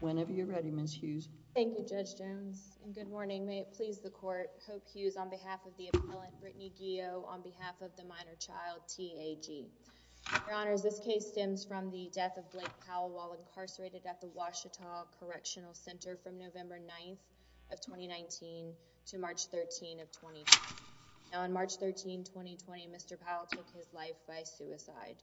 Whenever you're ready, Ms. Hughes. Thank you, Judge Jones. And good morning. May it please the court. Hope Hughes on behalf of the appellant, Brittany Gio, on behalf of the minor child, T.A.G. Your Honors, this case stems from the death of Blake Powell while incarcerated at the Ouachita Correctional Center from November 9th of 2019 to March 13th of 2020. Now, on March 13th, 2020, Mr. Powell took his life by suicide.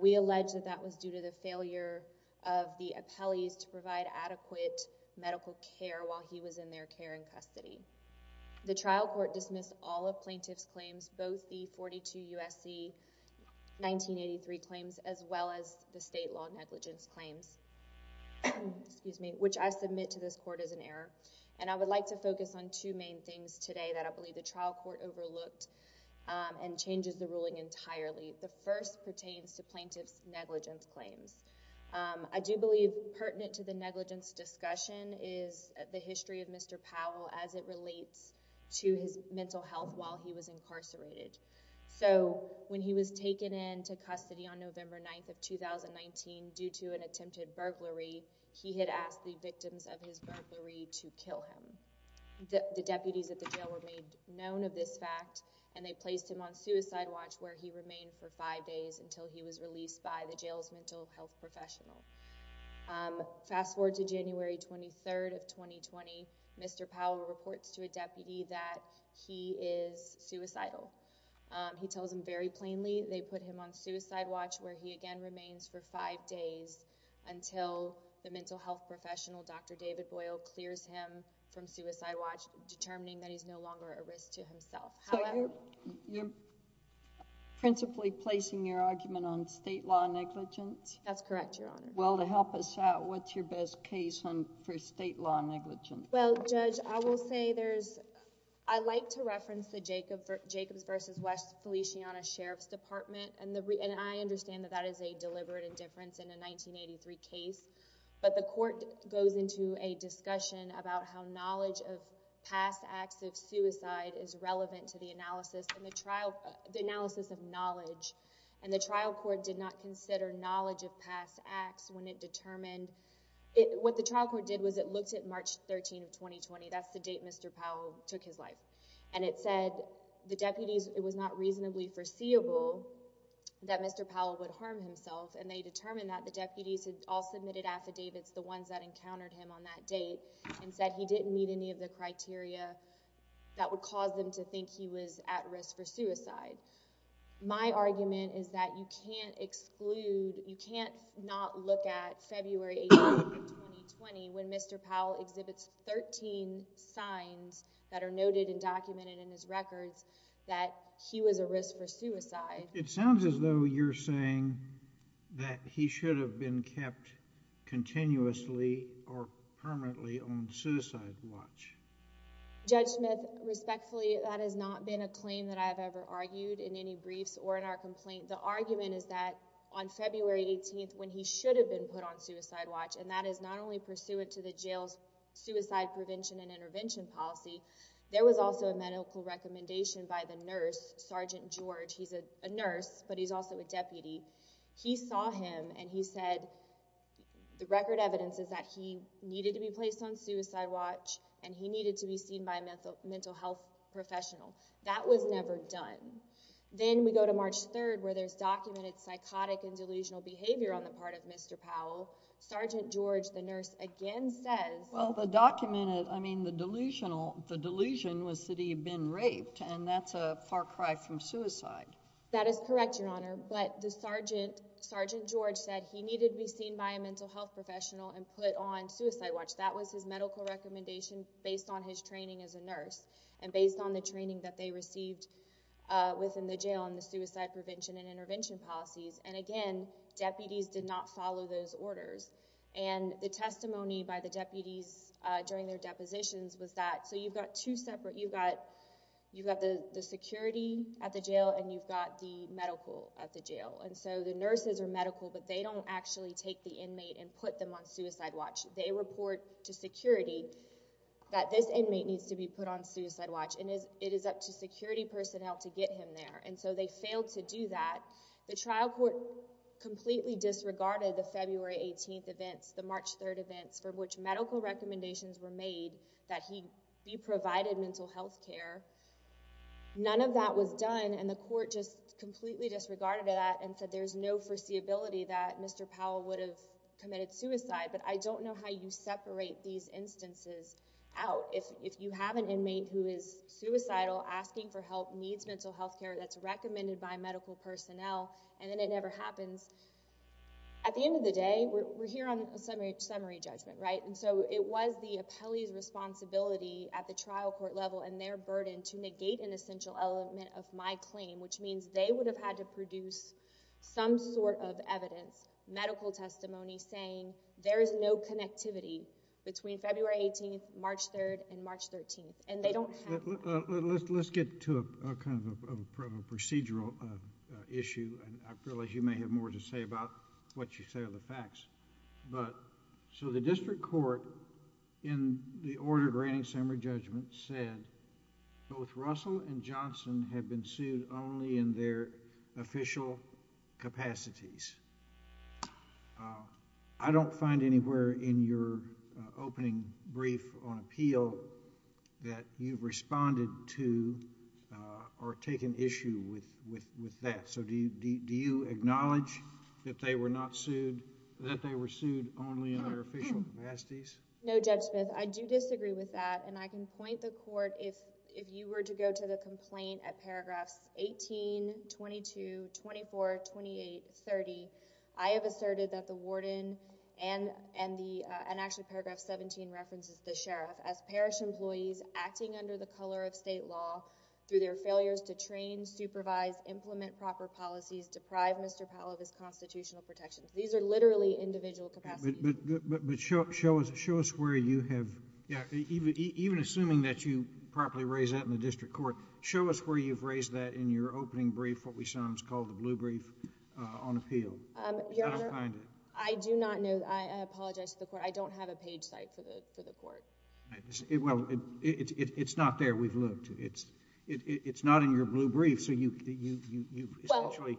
We allege that that was due to the failure of the appellees to provide adequate medical care while he was in their care in custody. The trial court dismissed all of plaintiff's claims, both the 42 U.S.C. 1983 claims as well as the state law negligence claims, which I submit to this court as an error. And I would like to focus on two main things today that I believe the trial court overlooked and changes the ruling entirely. The first pertains to plaintiff's negligence claims. I do believe pertinent to the negligence discussion is the history of Mr. Powell as it relates to his mental health while he was incarcerated. So, when he was taken into custody on November 9th of 2019 due to an attempted burglary, he had asked the victims of his act and they placed him on suicide watch where he remained for five days until he was released by the jail's mental health professional. Fast forward to January 23rd of 2020, Mr. Powell reports to a deputy that he is suicidal. He tells them very plainly they put him on suicide watch where he again remains for five days until the mental health professional, Dr. David Boyle, clears him from suicide watch, determining that he's no longer a risk to himself. So, you're principally placing your argument on state law negligence? That's correct, Your Honor. Well, to help us out, what's your best case for state law negligence? Well, Judge, I will say there's, I like to reference the Jacobs v. West Feliciana Sheriff's Department and I understand that that is a deliberate indifference in a 1983 case, but the court goes into a discussion about how knowledge of past acts of suicide is relevant to the analysis and the trial, the analysis of knowledge, and the trial court did not consider knowledge of past acts when it determined, what the trial court did was it looked at March 13th of 2020, that's the date Mr. Powell took his life, and it said the deputies, it was not reasonably foreseeable that Mr. Powell would harm himself and they determined that the deputies had all submitted affidavits, the ones that encountered him on that date, and said he didn't meet any of the criteria that would cause them to think he was at risk for suicide. My argument is that you can't exclude, you can't not look at February 18th of 2020 when Mr. Powell exhibits 13 signs that are noted and documented in his records that he was a risk for suicide. It sounds as though you're saying that he should have been kept continuously or permanently on suicide watch. Judge Smith, respectfully, that has not been a claim that I have ever argued in any briefs or in our complaint. The argument is that on February 18th when he should have been put on suicide watch and that is not only pursuant to the jail's suicide prevention and intervention policy, there was also a medical recommendation by the nurse, Sergeant George. He's a nurse, but he's also a deputy. He saw him and he said the record evidence is that he needed to be placed on suicide watch and he needed to be seen by a mental health professional. That was never done. Then we go to March 3rd where there's documented psychotic and delusional behavior on the part of Mr. Powell. Sergeant George, the nurse, again says- The reason was that he had been raped and that's a far cry from suicide. That is correct, Your Honor, but the Sergeant George said he needed to be seen by a mental health professional and put on suicide watch. That was his medical recommendation based on his training as a nurse and based on the training that they received within the jail and the suicide prevention and intervention policies. Again, deputies did not follow those orders. The testimony by the deputies during their depositions was that, so you've got two separate You've got the security at the jail and you've got the medical at the jail. The nurses are medical, but they don't actually take the inmate and put them on suicide watch. They report to security that this inmate needs to be put on suicide watch and it is up to security personnel to get him there. They failed to do that. The trial court completely disregarded the February 18th events, the March 3rd events for which medical recommendations were made that he be provided mental health care. None of that was done and the court just completely disregarded that and said there's no foreseeability that Mr. Powell would have committed suicide, but I don't know how you separate these instances out. If you have an inmate who is suicidal, asking for help, needs mental health care that's recommended by medical personnel and then it never happens, at the end of the day, we're here on a summary judgment, right, and so it was the appellee's responsibility at the trial court level and their burden to negate an essential element of my claim, which means they would have had to produce some sort of evidence, medical testimony, saying there is no connectivity between February 18th, March 3rd, and March 13th and they don't have... Let's get to a kind of a procedural issue and I realize you may have more to say about what you say are the facts, but so the district court in the order granting summary judgment said both Russell and Johnson have been sued only in their official capacities. I don't find anywhere in your opening brief on appeal that you've responded to or taken an issue with that, so do you acknowledge that they were not sued, that they were sued only in their official capacities? No, Judge Smith. I do disagree with that and I can point the court if you were to go to the complaint at paragraphs 18, 22, 24, 28, 30, I have asserted that the warden and actually paragraph 17 references the sheriff as parish employees acting under the color of state law through their failures to train, supervise, implement proper policies, deprive Mr. Powell of his constitutional protections. These are literally individual capacities. But show us where you have... even assuming that you properly raised that in the district court, show us where you've raised that in your opening brief, what we sometimes call the blue brief on appeal. I don't find it. Your Honor, I do not know. I apologize to the court. I don't have a page site for the court. Well, it's not there. We've looked. It's not in your blue brief, so you essentially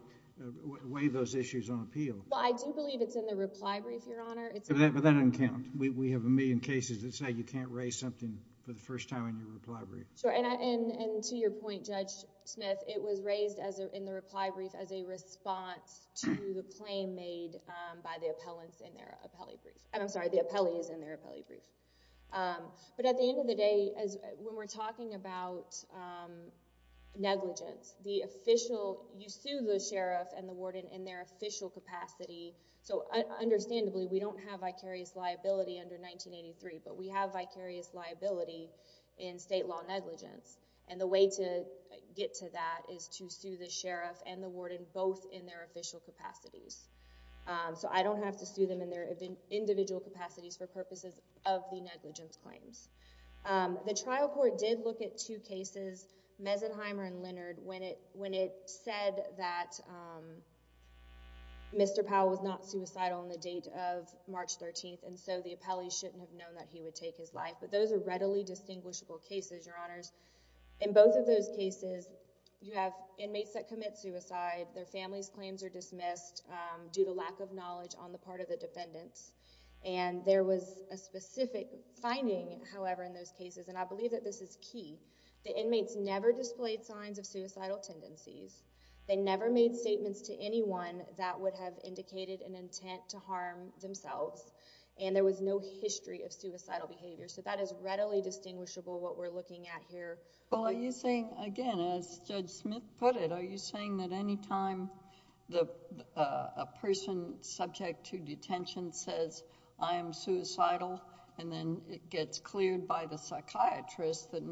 weigh those issues on appeal. Well, I do believe it's in the reply brief, Your Honor. But that doesn't count. We have a million cases that say you can't raise something for the first time in your reply brief. Sure. And to your point, Judge Smith, it was raised in the reply brief as a response to the claim made by the appellants in their appellate brief. I'm sorry, the appellee is in their appellate brief. But at the end of the day, when we're talking about negligence, the official, you sue the sheriff and the warden in their official capacity. So understandably, we don't have vicarious liability under 1983, but we have vicarious liability in state law negligence. And the way to get to that is to sue the sheriff and the warden both in their official capacities. So I don't have to sue them in their individual capacities for purposes of the negligence claims. The trial court did look at two cases, Meisenheimer and Leonard, when it said that Mr. Powell was not suicidal on the date of March 13th, and so the appellee shouldn't have known that he would take his life. But those are readily distinguishable cases, Your Honors. In both of those cases, you have inmates that commit suicide, their family's claims are due to lack of knowledge on the part of the defendants. And there was a specific finding, however, in those cases, and I believe that this is key, the inmates never displayed signs of suicidal tendencies, they never made statements to anyone that would have indicated an intent to harm themselves, and there was no history of suicidal behavior. So that is readily distinguishable what we're looking at here. Well, are you saying, again, as Judge Smith put it, are you saying that any time a person subject to detention says, I am suicidal, and then it gets cleared by the psychiatrist that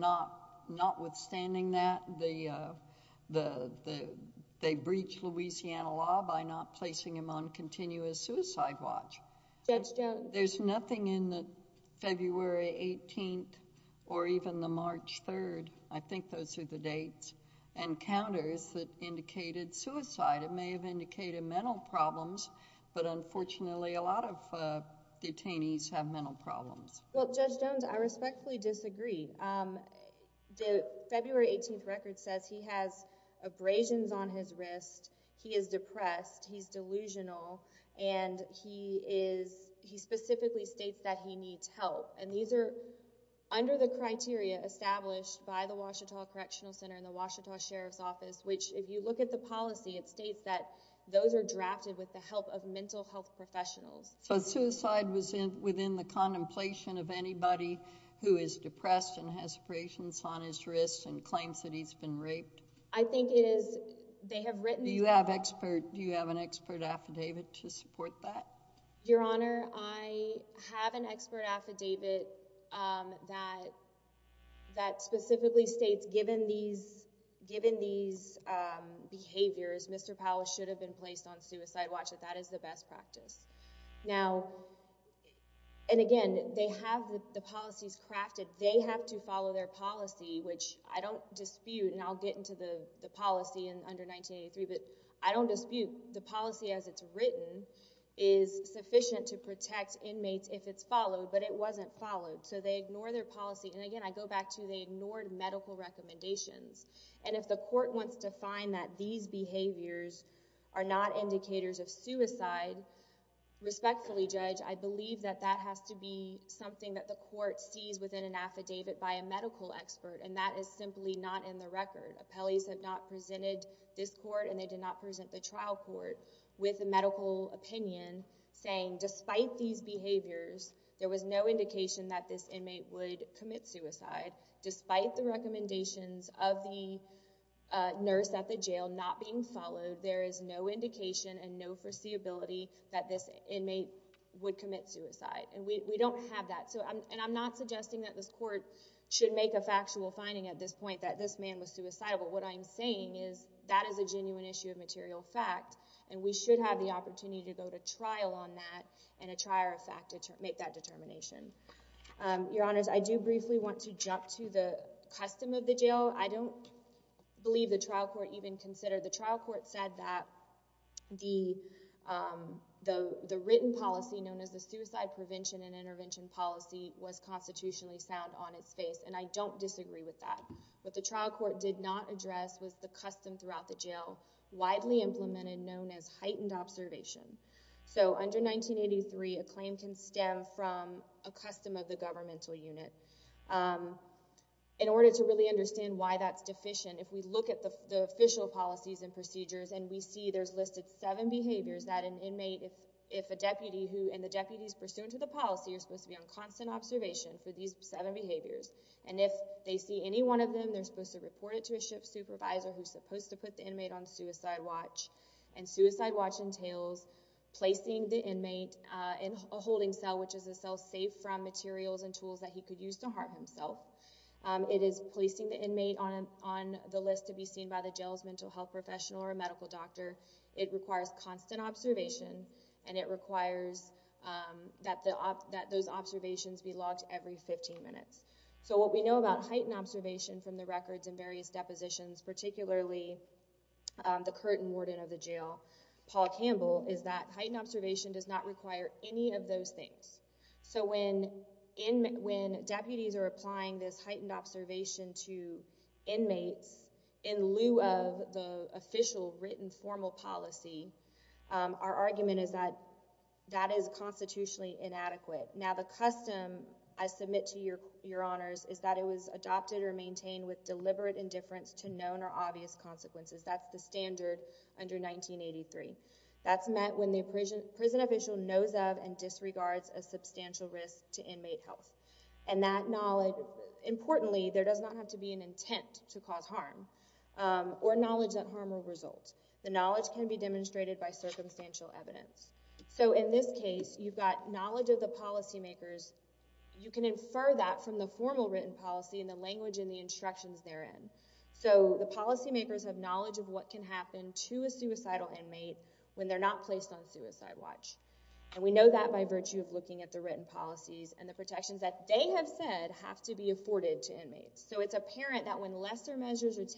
notwithstanding that, they breach Louisiana law by not placing him on continuous suicide watch? Judge Jones. There's nothing in the February 18th or even the March 3rd, I think those are the dates, and counters that indicated suicide. It may have indicated mental problems, but unfortunately, a lot of detainees have mental problems. Well, Judge Jones, I respectfully disagree. The February 18th record says he has abrasions on his wrist, he is depressed, he's delusional, and he is, he specifically states that he needs help, and these are under the criteria established by the Washtenaw Correctional Center and the Washtenaw Sheriff's Office, which if you look at the policy, it states that those are drafted with the help of mental health professionals. So suicide was within the contemplation of anybody who is depressed and has abrasions on his wrist and claims that he's been raped? I think it is, they have written... Do you have expert, do you have an expert affidavit to support that? Your Honor, I have an expert affidavit that specifically states given these behaviors, Mr. Powell should have been placed on suicide watch, that that is the best practice. Now, and again, they have the policies crafted, they have to follow their policy, which I don't dispute, and I'll get into the policy in under 1983, but I don't dispute the policy as it's written is sufficient to protect inmates if it's followed, but it wasn't followed. So they ignore their policy, and again, I go back to they ignored medical recommendations, and if the court wants to find that these behaviors are not indicators of suicide, respectfully Judge, I believe that that has to be something that the court sees within an affidavit by a medical expert, and that is simply not in the record. Appellees have not presented this court, and they did not present the trial court with a medical opinion saying despite these behaviors, there was no indication that this inmate would commit suicide, despite the recommendations of the nurse at the jail not being followed, there is no indication and no foreseeability that this inmate would commit suicide, and we don't have that, and I'm not suggesting that this court should make a factual finding at this point that this man was suicidal, but what I'm saying is that is a genuine issue of material fact, and we should have the opportunity to go to trial on that and make that determination. Your Honors, I do briefly want to jump to the custom of the jail. I don't believe the trial court even considered, the trial court said that the written policy known as the suicide prevention and intervention policy was constitutionally sound on its face, and I don't disagree with that, but the trial court did not address was the custom throughout the jail, widely implemented, known as heightened observation, so under 1983, a claim can stem from a custom of the governmental unit. In order to really understand why that's deficient, if we look at the official policies and procedures and we see there's listed seven behaviors that an inmate, if a deputy who, and the deputies pursuant to the policy are supposed to be on constant observation for these seven behaviors, and if they see any one of them, they're supposed to report it to a SHIP supervisor who's supposed to put the inmate on suicide watch, and suicide watch entails placing the inmate in a holding cell, which is a cell safe from materials and tools that he could use to harm himself. It is placing the inmate on the list to be seen by the jail's mental health professional or a medical doctor, it requires constant observation, and it requires that those observations be logged every 15 minutes, so what we know about heightened observation from the records and various depositions, particularly the current warden of the jail, Paul Campbell, is that heightened observation does not require any of those things, so when deputies are looking at an official written formal policy, our argument is that that is constitutionally inadequate. Now the custom I submit to your honors is that it was adopted or maintained with deliberate indifference to known or obvious consequences, that's the standard under 1983. That's met when the prison official knows of and disregards a substantial risk to inmate health, and that knowledge, importantly, there does not have to be an intent to cause harm, or knowledge that harm will result. The knowledge can be demonstrated by circumstantial evidence, so in this case, you've got knowledge of the policymakers, you can infer that from the formal written policy and the language and the instructions therein, so the policymakers have knowledge of what can happen to a suicidal inmate when they're not placed on suicide watch, and we know that by virtue of looking at the written policies and the protections that they have said have to be afforded to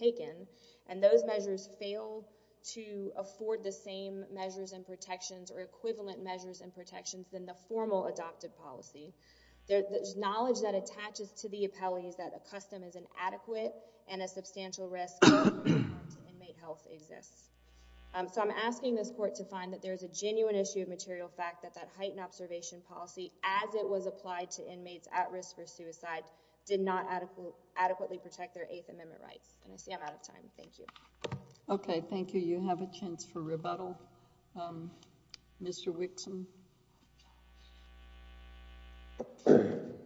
be taken, and those measures fail to afford the same measures and protections or equivalent measures and protections than the formal adopted policy, there's knowledge that attaches to the appellees that a custom is inadequate and a substantial risk to inmate health exists. So I'm asking this court to find that there's a genuine issue of material fact that that heightened observation policy, as it was applied to inmates at risk for suicide, did not adequately protect their Eighth Amendment rights, and I see I'm out of time, thank you. Okay, thank you. You have a chance for rebuttal. Mr. Wixom. Good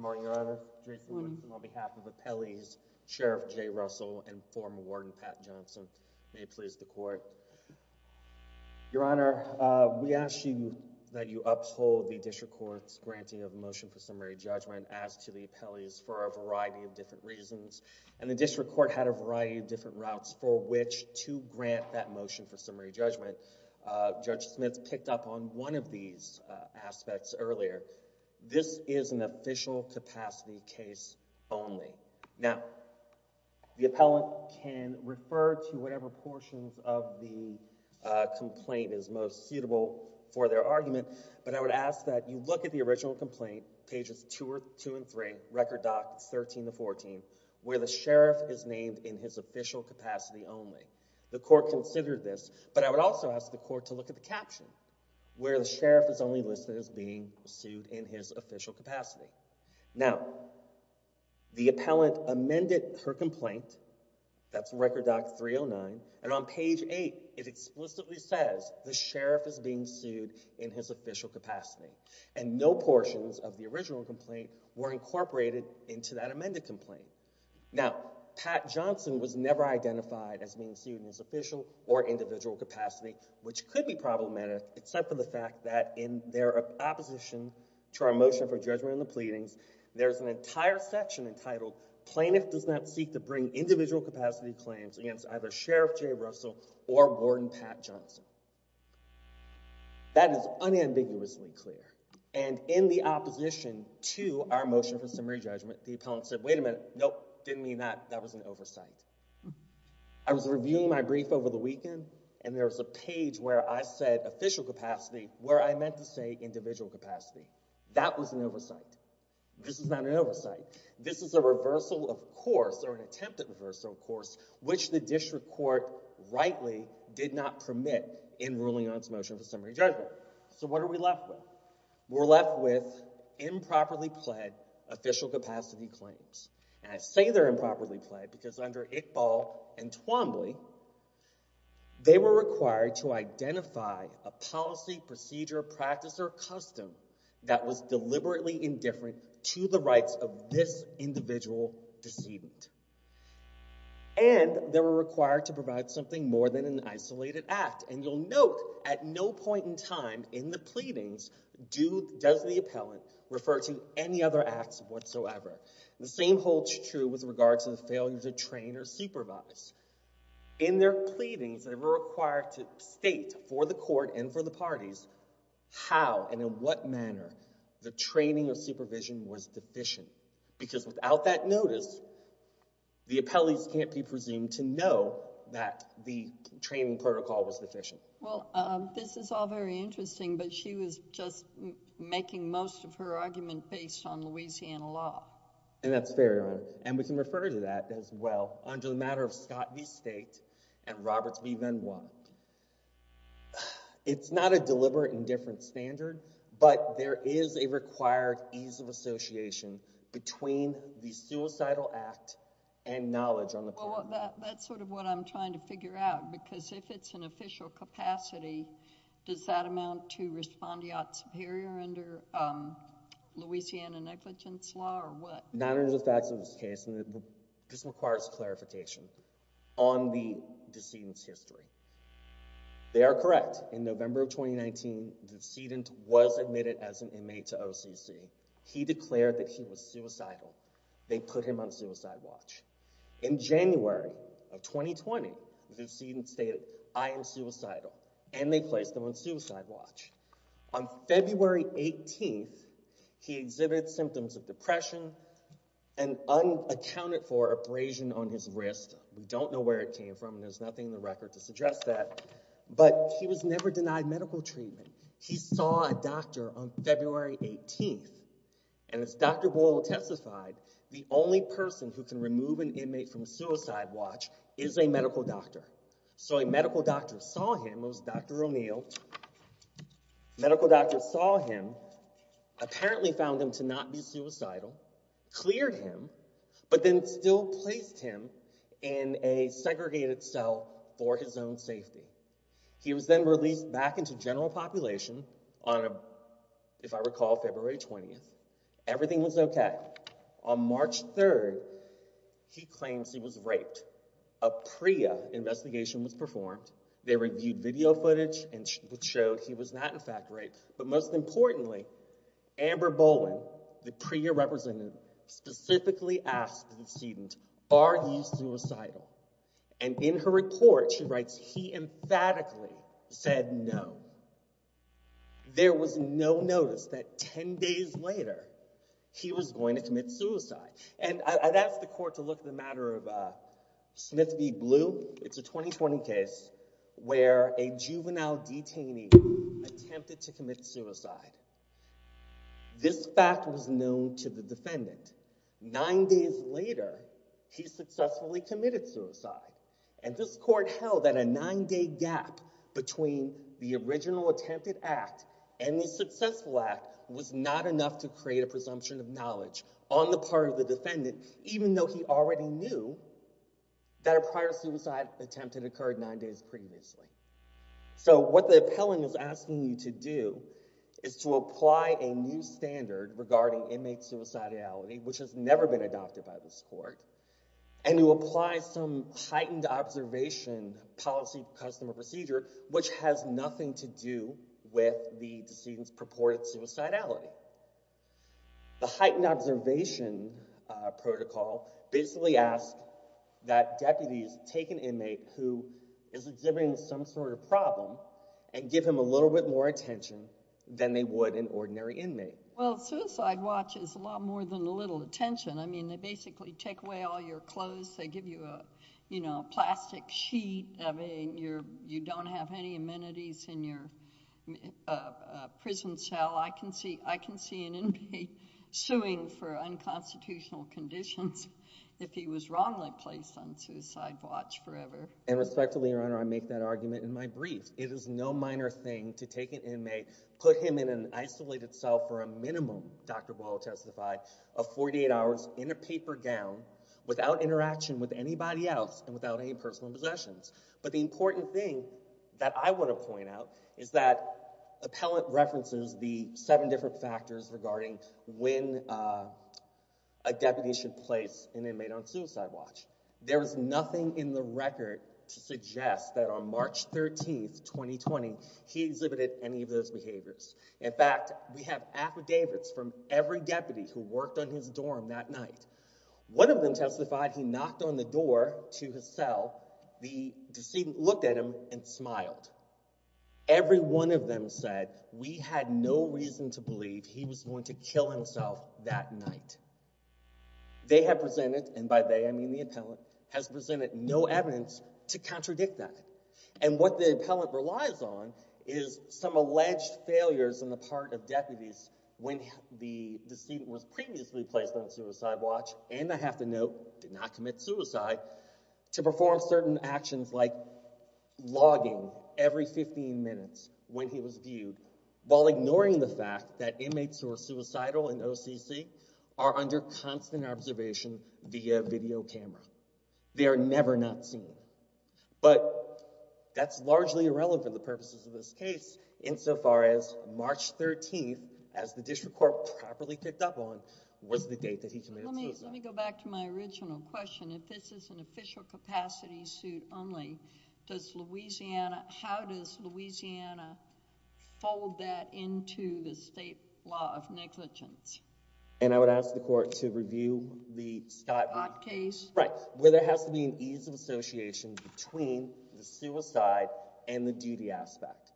morning, Your Honor. Jason Wixom on behalf of appellees, Sheriff Jay Russell, and former Warden Pat Johnson. May it please the court. Your Honor, we ask you that you uphold the district court's granting of a motion for a variety of different reasons, and the district court had a variety of different routes for which to grant that motion for summary judgment. Judge Smith picked up on one of these aspects earlier. This is an official capacity case only. Now, the appellant can refer to whatever portions of the complaint is most suitable for their argument, but I would ask that you look at the original complaint, pages two and three, record doc 13 to 14, where the sheriff is named in his official capacity only. The court considered this, but I would also ask the court to look at the caption, where the sheriff is only listed as being sued in his official capacity. Now, the appellant amended her complaint, that's record doc 309, and on page eight, it explicitly says the sheriff is being sued in his official capacity, and no portions of the original complaint were incorporated into that amended complaint. Now, Pat Johnson was never identified as being sued in his official or individual capacity, which could be problematic, except for the fact that in their opposition to our motion for judgment in the pleadings, there's an entire section entitled plaintiff does not seek to bring individual capacity claims against either Sheriff Jay Russell or Warden Pat Johnson. That is unambiguously clear, and in the opposition to our motion for summary judgment, the appellant said, wait a minute, nope, didn't mean that, that was an oversight. I was reviewing my brief over the weekend, and there was a page where I said official capacity, where I meant to say individual capacity. That was an oversight. This is not an oversight. This is a reversal of course, or an attempted reversal of course, which the district court rightly did not permit in ruling on its motion for summary judgment. So what are we left with? We're left with improperly pled official capacity claims, and I say they're improperly pled because under Iqbal and Twombly, they were required to identify a policy, procedure, practice, or custom that was deliberately indifferent to the rights of this individual decedent. And they were required to provide something more than an isolated act, and you'll note at no point in time in the pleadings does the appellant refer to any other acts whatsoever. The same holds true with regards to the failure to train or supervise. In their pleadings, they were required to state for the court and for the parties how and in what manner the training or supervision was deficient. Because without that notice, the appellees can't be presumed to know that the training protocol was deficient. Well, this is all very interesting, but she was just making most of her argument based on Louisiana law. And that's fair, Your Honor. And we can refer to that as well under the matter of Scott v. State and Roberts v. Benoit. It's not a deliberate indifference standard, but there is a required ease of association between the suicidal act and knowledge on the part of the appellant. That's sort of what I'm trying to figure out, because if it's an official capacity, does that amount to respondeat superior under Louisiana negligence law or what? None of the facts of this case, and this requires clarification on the decedent's history. They are correct. In November of 2019, the decedent was admitted as an inmate to OCC. He declared that he was suicidal. They put him on suicide watch. In January of 2020, the decedent stated, I am suicidal. And they placed him on suicide watch. On February 18th, he exhibited symptoms of depression and unaccounted for abrasion on his wrist. We don't know where it came from, and there's nothing in the record to suggest that. But he was never denied medical treatment. He saw a doctor on February 18th, and as Dr. Boyle testified, the only person who can remove an inmate from suicide watch is a medical doctor. So a medical doctor saw him, it was Dr. O'Neill, a medical doctor saw him, apparently found him to not be suicidal, cleared him, but then still placed him in a segregated cell for his own safety. He was then released back into general population on, if I recall, February 20th. Everything was okay. On March 3rd, he claims he was raped. A PREA investigation was performed. They reviewed video footage, which showed he was not in fact raped. But most importantly, Amber Boland, the PREA representative, specifically asked the decedent, are you suicidal? And in her report, she writes, he emphatically said no. There was no notice that 10 days later, he was going to commit suicide. And I'd ask the court to look at the matter of Smith v. Blue. It's a 2020 case where a juvenile detainee attempted to commit suicide. This fact was known to the defendant. Nine days later, he successfully committed suicide. And this court held that a nine-day gap between the original attempted act and the successful act was not enough to create a presumption of knowledge on the part of the defendant, even though he already knew that a prior suicide attempt had occurred nine days previously. So what the appellant is asking you to do is to apply a new standard regarding inmate suicidality, which has never been adopted by this court, and you apply some heightened observation policy, custom, or procedure, which has nothing to do with the decedent's purported suicidality. The heightened observation protocol basically asks that deputies take an inmate who is exhibiting some sort of problem and give him a little bit more attention than they would an ordinary inmate. Well, suicide watch is a lot more than a little attention. I mean, they basically take away all your clothes, they give you a, you know, plastic sheet, I mean, you don't have any amenities in your prison cell. I can see an inmate suing for unconstitutional conditions if he was wrongly placed on suicide watch forever. And respectfully, Your Honor, I make that argument in my brief. It is no minor thing to take an inmate, put him in an isolated cell for a minimum, Dr. Boyle testified, of 48 hours in a paper gown without interaction with anybody else and without any personal possessions. But the important thing that I want to point out is that appellant references the seven different factors regarding when a deputy should place an inmate on suicide watch. There is nothing in the record to suggest that on March 13th, 2020, he exhibited any of those behaviors. In fact, we have affidavits from every deputy who worked on his dorm that night. One of them testified he knocked on the door to his cell, the decedent looked at him and smiled. Every one of them said we had no reason to believe he was going to kill himself that night. In fact, they have presented, and by they I mean the appellant, has presented no evidence to contradict that. And what the appellant relies on is some alleged failures on the part of deputies when the decedent was previously placed on suicide watch, and I have to note, did not commit suicide, to perform certain actions like logging every 15 minutes when he was viewed while ignoring the fact that inmates who are suicidal in OCC are under constant observation via video camera. They are never not seen. But that's largely irrelevant for the purposes of this case insofar as March 13th, as the District Court properly picked up on, was the date that he committed suicide. Let me go back to my original question. If this is an official capacity suit only, does Louisiana, how does Louisiana hold that according to the state law of negligence? And I would ask the court to review the Scott case. Scott case. Right. Where there has to be an ease of association between the suicide and the duty aspect.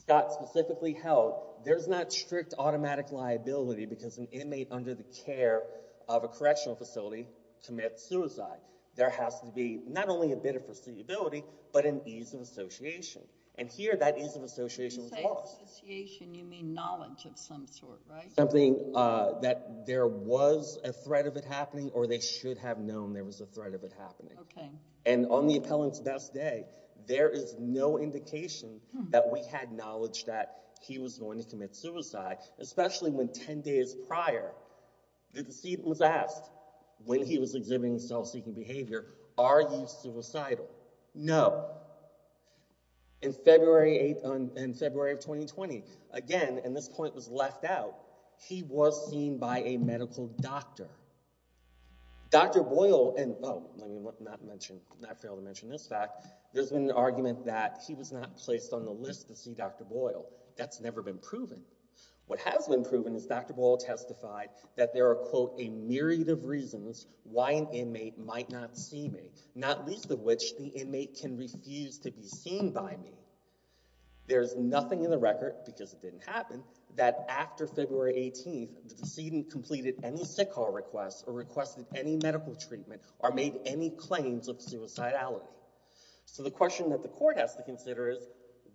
Scott specifically held there's not strict automatic liability because an inmate under the care of a correctional facility commits suicide. There has to be not only a bit of foreseeability, but an ease of association. And here that ease of association was lost. Ease of association, you mean knowledge of some sort, right? Something that there was a threat of it happening or they should have known there was a threat of it happening. Okay. And on the appellant's best day, there is no indication that we had knowledge that he was going to commit suicide, especially when 10 days prior, the deceit was asked when he was exhibiting self-seeking behavior, are you suicidal? No. However, in February 8th, in February of 2020, again, and this point was left out, he was seen by a medical doctor, Dr. Boyle, and oh, let me not mention, not fail to mention this fact. There's been an argument that he was not placed on the list to see Dr. Boyle. That's never been proven. What has been proven is Dr. Boyle testified that there are quote, a myriad of reasons why an inmate might not see me, not least of which the inmate can refuse to be seen by me. There's nothing in the record because it didn't happen that after February 18th, the decedent completed any sick hall requests or requested any medical treatment or made any claims of suicidality. So the question that the court has to consider is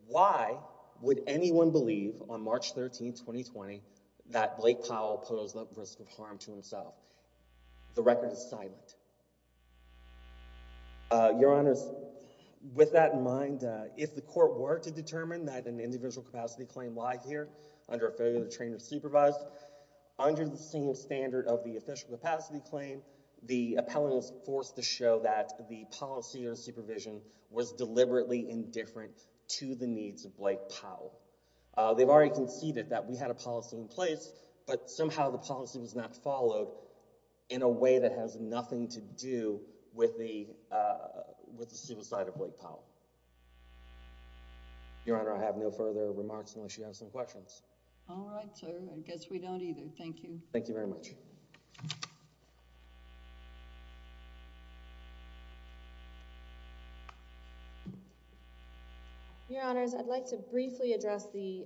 why would anyone believe on March 13th, 2020, that Blake Powell posed that risk of harm to himself? The record is silent. Your Honors, with that in mind, if the court were to determine that an individual capacity claim lie here under a failure to train or supervise under the same standard of the official capacity claim, the appellant was forced to show that the policy or supervision was deliberately indifferent to the needs of Blake Powell. They've already conceded that we had a policy in place, but somehow the policy was not followed in a way that has nothing to do with the, uh, with the suicide of Blake Powell. Your Honor, I have no further remarks unless you have some questions. All right, sir. I guess we don't either. Thank you. Thank you very much. Your Honors, I'd like to briefly address the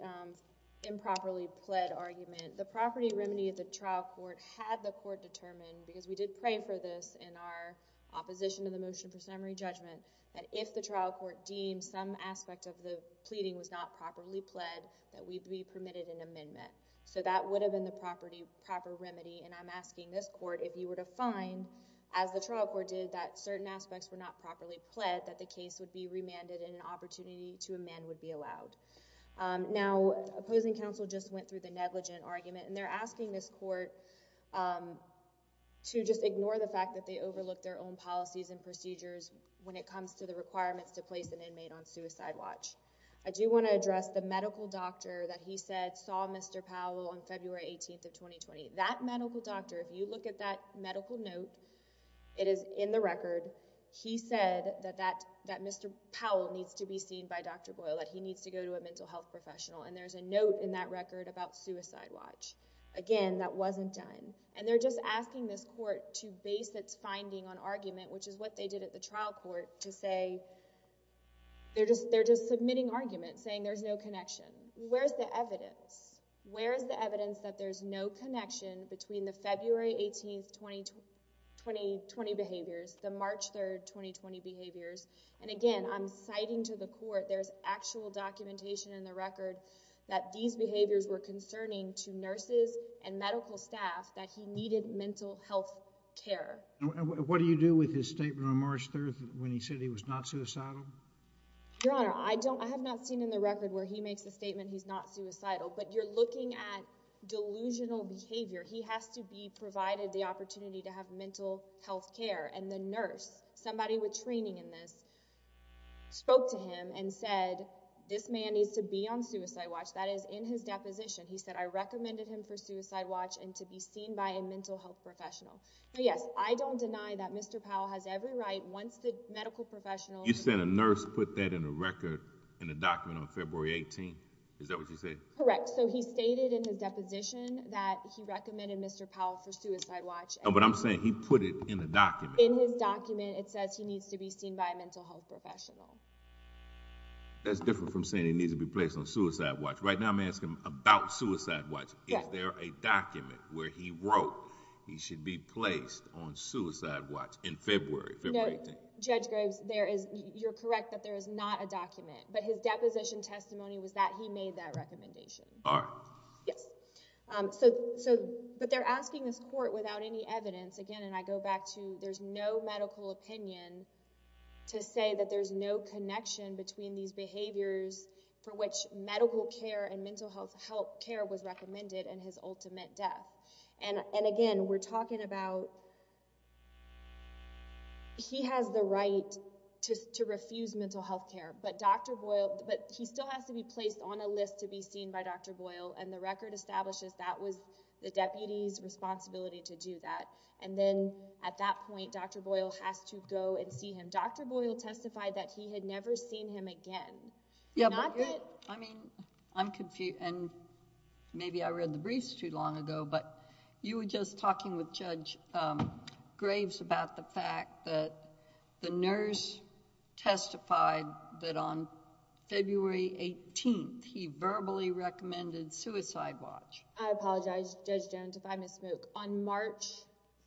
improperly pled argument. The property remedy of the trial court had the court determine, because we did pray for this in our opposition to the motion for summary judgment, that if the trial court deemed some aspect of the pleading was not properly pled, that we'd be permitted an amendment. So that would have been the property, proper remedy, and I'm asking this court if you were to find, as the trial court did, that certain aspects were not properly pled, that the case would be remanded and an opportunity to amend would be allowed. Now, opposing counsel just went through the negligent argument, and they're asking this court to just ignore the fact that they overlooked their own policies and procedures when it comes to the requirements to place an inmate on suicide watch. I do want to address the medical doctor that he said saw Mr. Powell on February 18th of 2020. That medical doctor, if you look at that medical note, it is in the record. He said that Mr. Powell needs to be seen by Dr. Boyle, that he needs to go to a mental health professional, and there's a note in that record about suicide watch. Again, that wasn't done. And they're just asking this court to base its finding on argument, which is what they did at the trial court, to say they're just submitting argument, saying there's no connection. Where's the evidence? Where is the evidence that there's no connection between the February 18th, 2020 behaviors, the March 3rd, 2020 behaviors? And again, I'm citing to the court, there's actual documentation in the record that these behaviors were concerning to nurses and medical staff that he needed mental health care. What do you do with his statement on March 3rd when he said he was not suicidal? Your Honor, I don't, I have not seen in the record where he makes the statement he's not suicidal, but you're looking at delusional behavior. He has to be provided the opportunity to have mental health care, and the nurse, somebody with training in this, spoke to him and said, this man needs to be on suicide watch. That is in his deposition. He said, I recommended him for suicide watch and to be seen by a mental health professional. Now, yes, I don't deny that Mr. Powell has every right, once the medical professional You said a nurse put that in a record, in a document on February 18th, is that what you say? Correct. So he stated in his deposition that he recommended Mr. Powell for suicide watch. But I'm saying he put it in a document. In his document, it says he needs to be seen by a mental health professional. That's different from saying he needs to be placed on suicide watch. Right now I'm asking him about suicide watch, is there a document where he wrote he should be placed on suicide watch in February, February 18th? Judge Graves, there is, you're correct that there is not a document, but his deposition testimony was that he made that recommendation. All right. Yes. So, but they're asking this court without any evidence, again, and I go back to, there's no medical opinion to say that there's no connection between these behaviors for which medical care and mental health care was recommended and his ultimate death. And again, we're talking about, he has the right to refuse mental health care, but Dr. Boyle still has to be placed on a list to be seen by Dr. Boyle and the record establishes that was the deputy's responsibility to do that. And then at that point, Dr. Boyle has to go and see him. Dr. Boyle testified that he had never seen him again. Yeah, but... Not that... I mean, I'm confused and maybe I read the briefs too long ago, but you were just talking with Judge Graves about the fact that the nurse testified that on February 18th, he verbally recommended suicide watch. I apologize, Judge Jones, if I misspoke. On March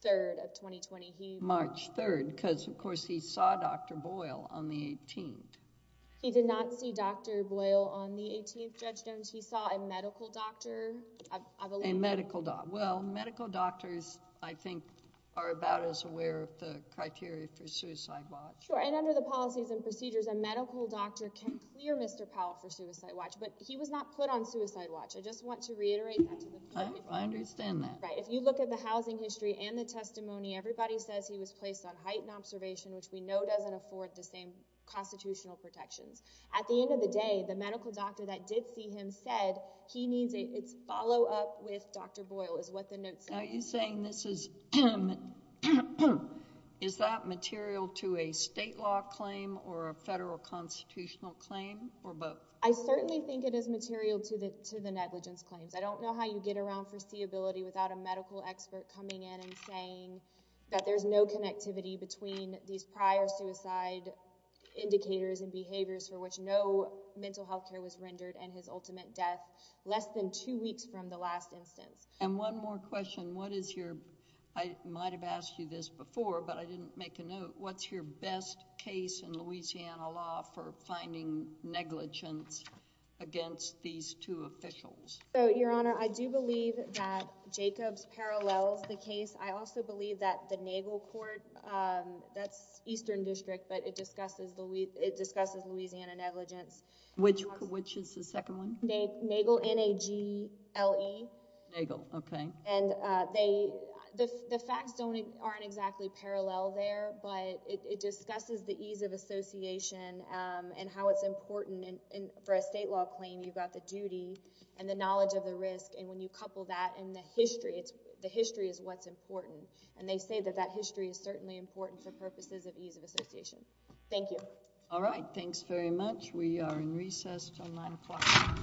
3rd of 2020, he... March 3rd, because, of course, he saw Dr. Boyle on the 18th. He did not see Dr. Boyle on the 18th, Judge Jones, he saw a medical doctor, I believe. A medical doctor. Well, medical doctors, I think, are about as aware of the criteria for suicide watch. Sure, and under the policies and procedures, a medical doctor can clear Mr. Powell for suicide watch, but he was not put on suicide watch. I just want to reiterate that to the... I understand that. Right. If you look at the housing history and the testimony, everybody says he was placed on heightened observation, which we know doesn't afford the same constitutional protections. At the end of the day, the medical doctor that did see him said he needs a follow-up with Dr. Boyle, is what the notes say. Are you saying this is... is that material to a state law claim or a federal constitutional claim or both? I certainly think it is material to the negligence claims. I don't know how you get around foreseeability without a medical expert coming in and saying that there's no connectivity between these prior suicide indicators and behaviors for which no mental health care was rendered and his ultimate death less than two weeks from the last instance. One more question. What is your... I might have asked you this before, but I didn't make a note. What's your best case in Louisiana law for finding negligence against these two officials? Your Honor, I do believe that Jacobs parallels the case. I also believe that the Nagel Court, that's Eastern District, but it discusses Louisiana negligence. Which is the second one? Nagel, N-A-G-L-E. Nagel. Okay. The facts aren't exactly parallel there, but it discusses the ease of association and how it's important for a state law claim. You've got the duty and the knowledge of the risk, and when you couple that and the history, the history is what's important. They say that that history is certainly important for purposes of ease of association. Thank you. All right. Thanks very much. We are in recess until 9 o'clock.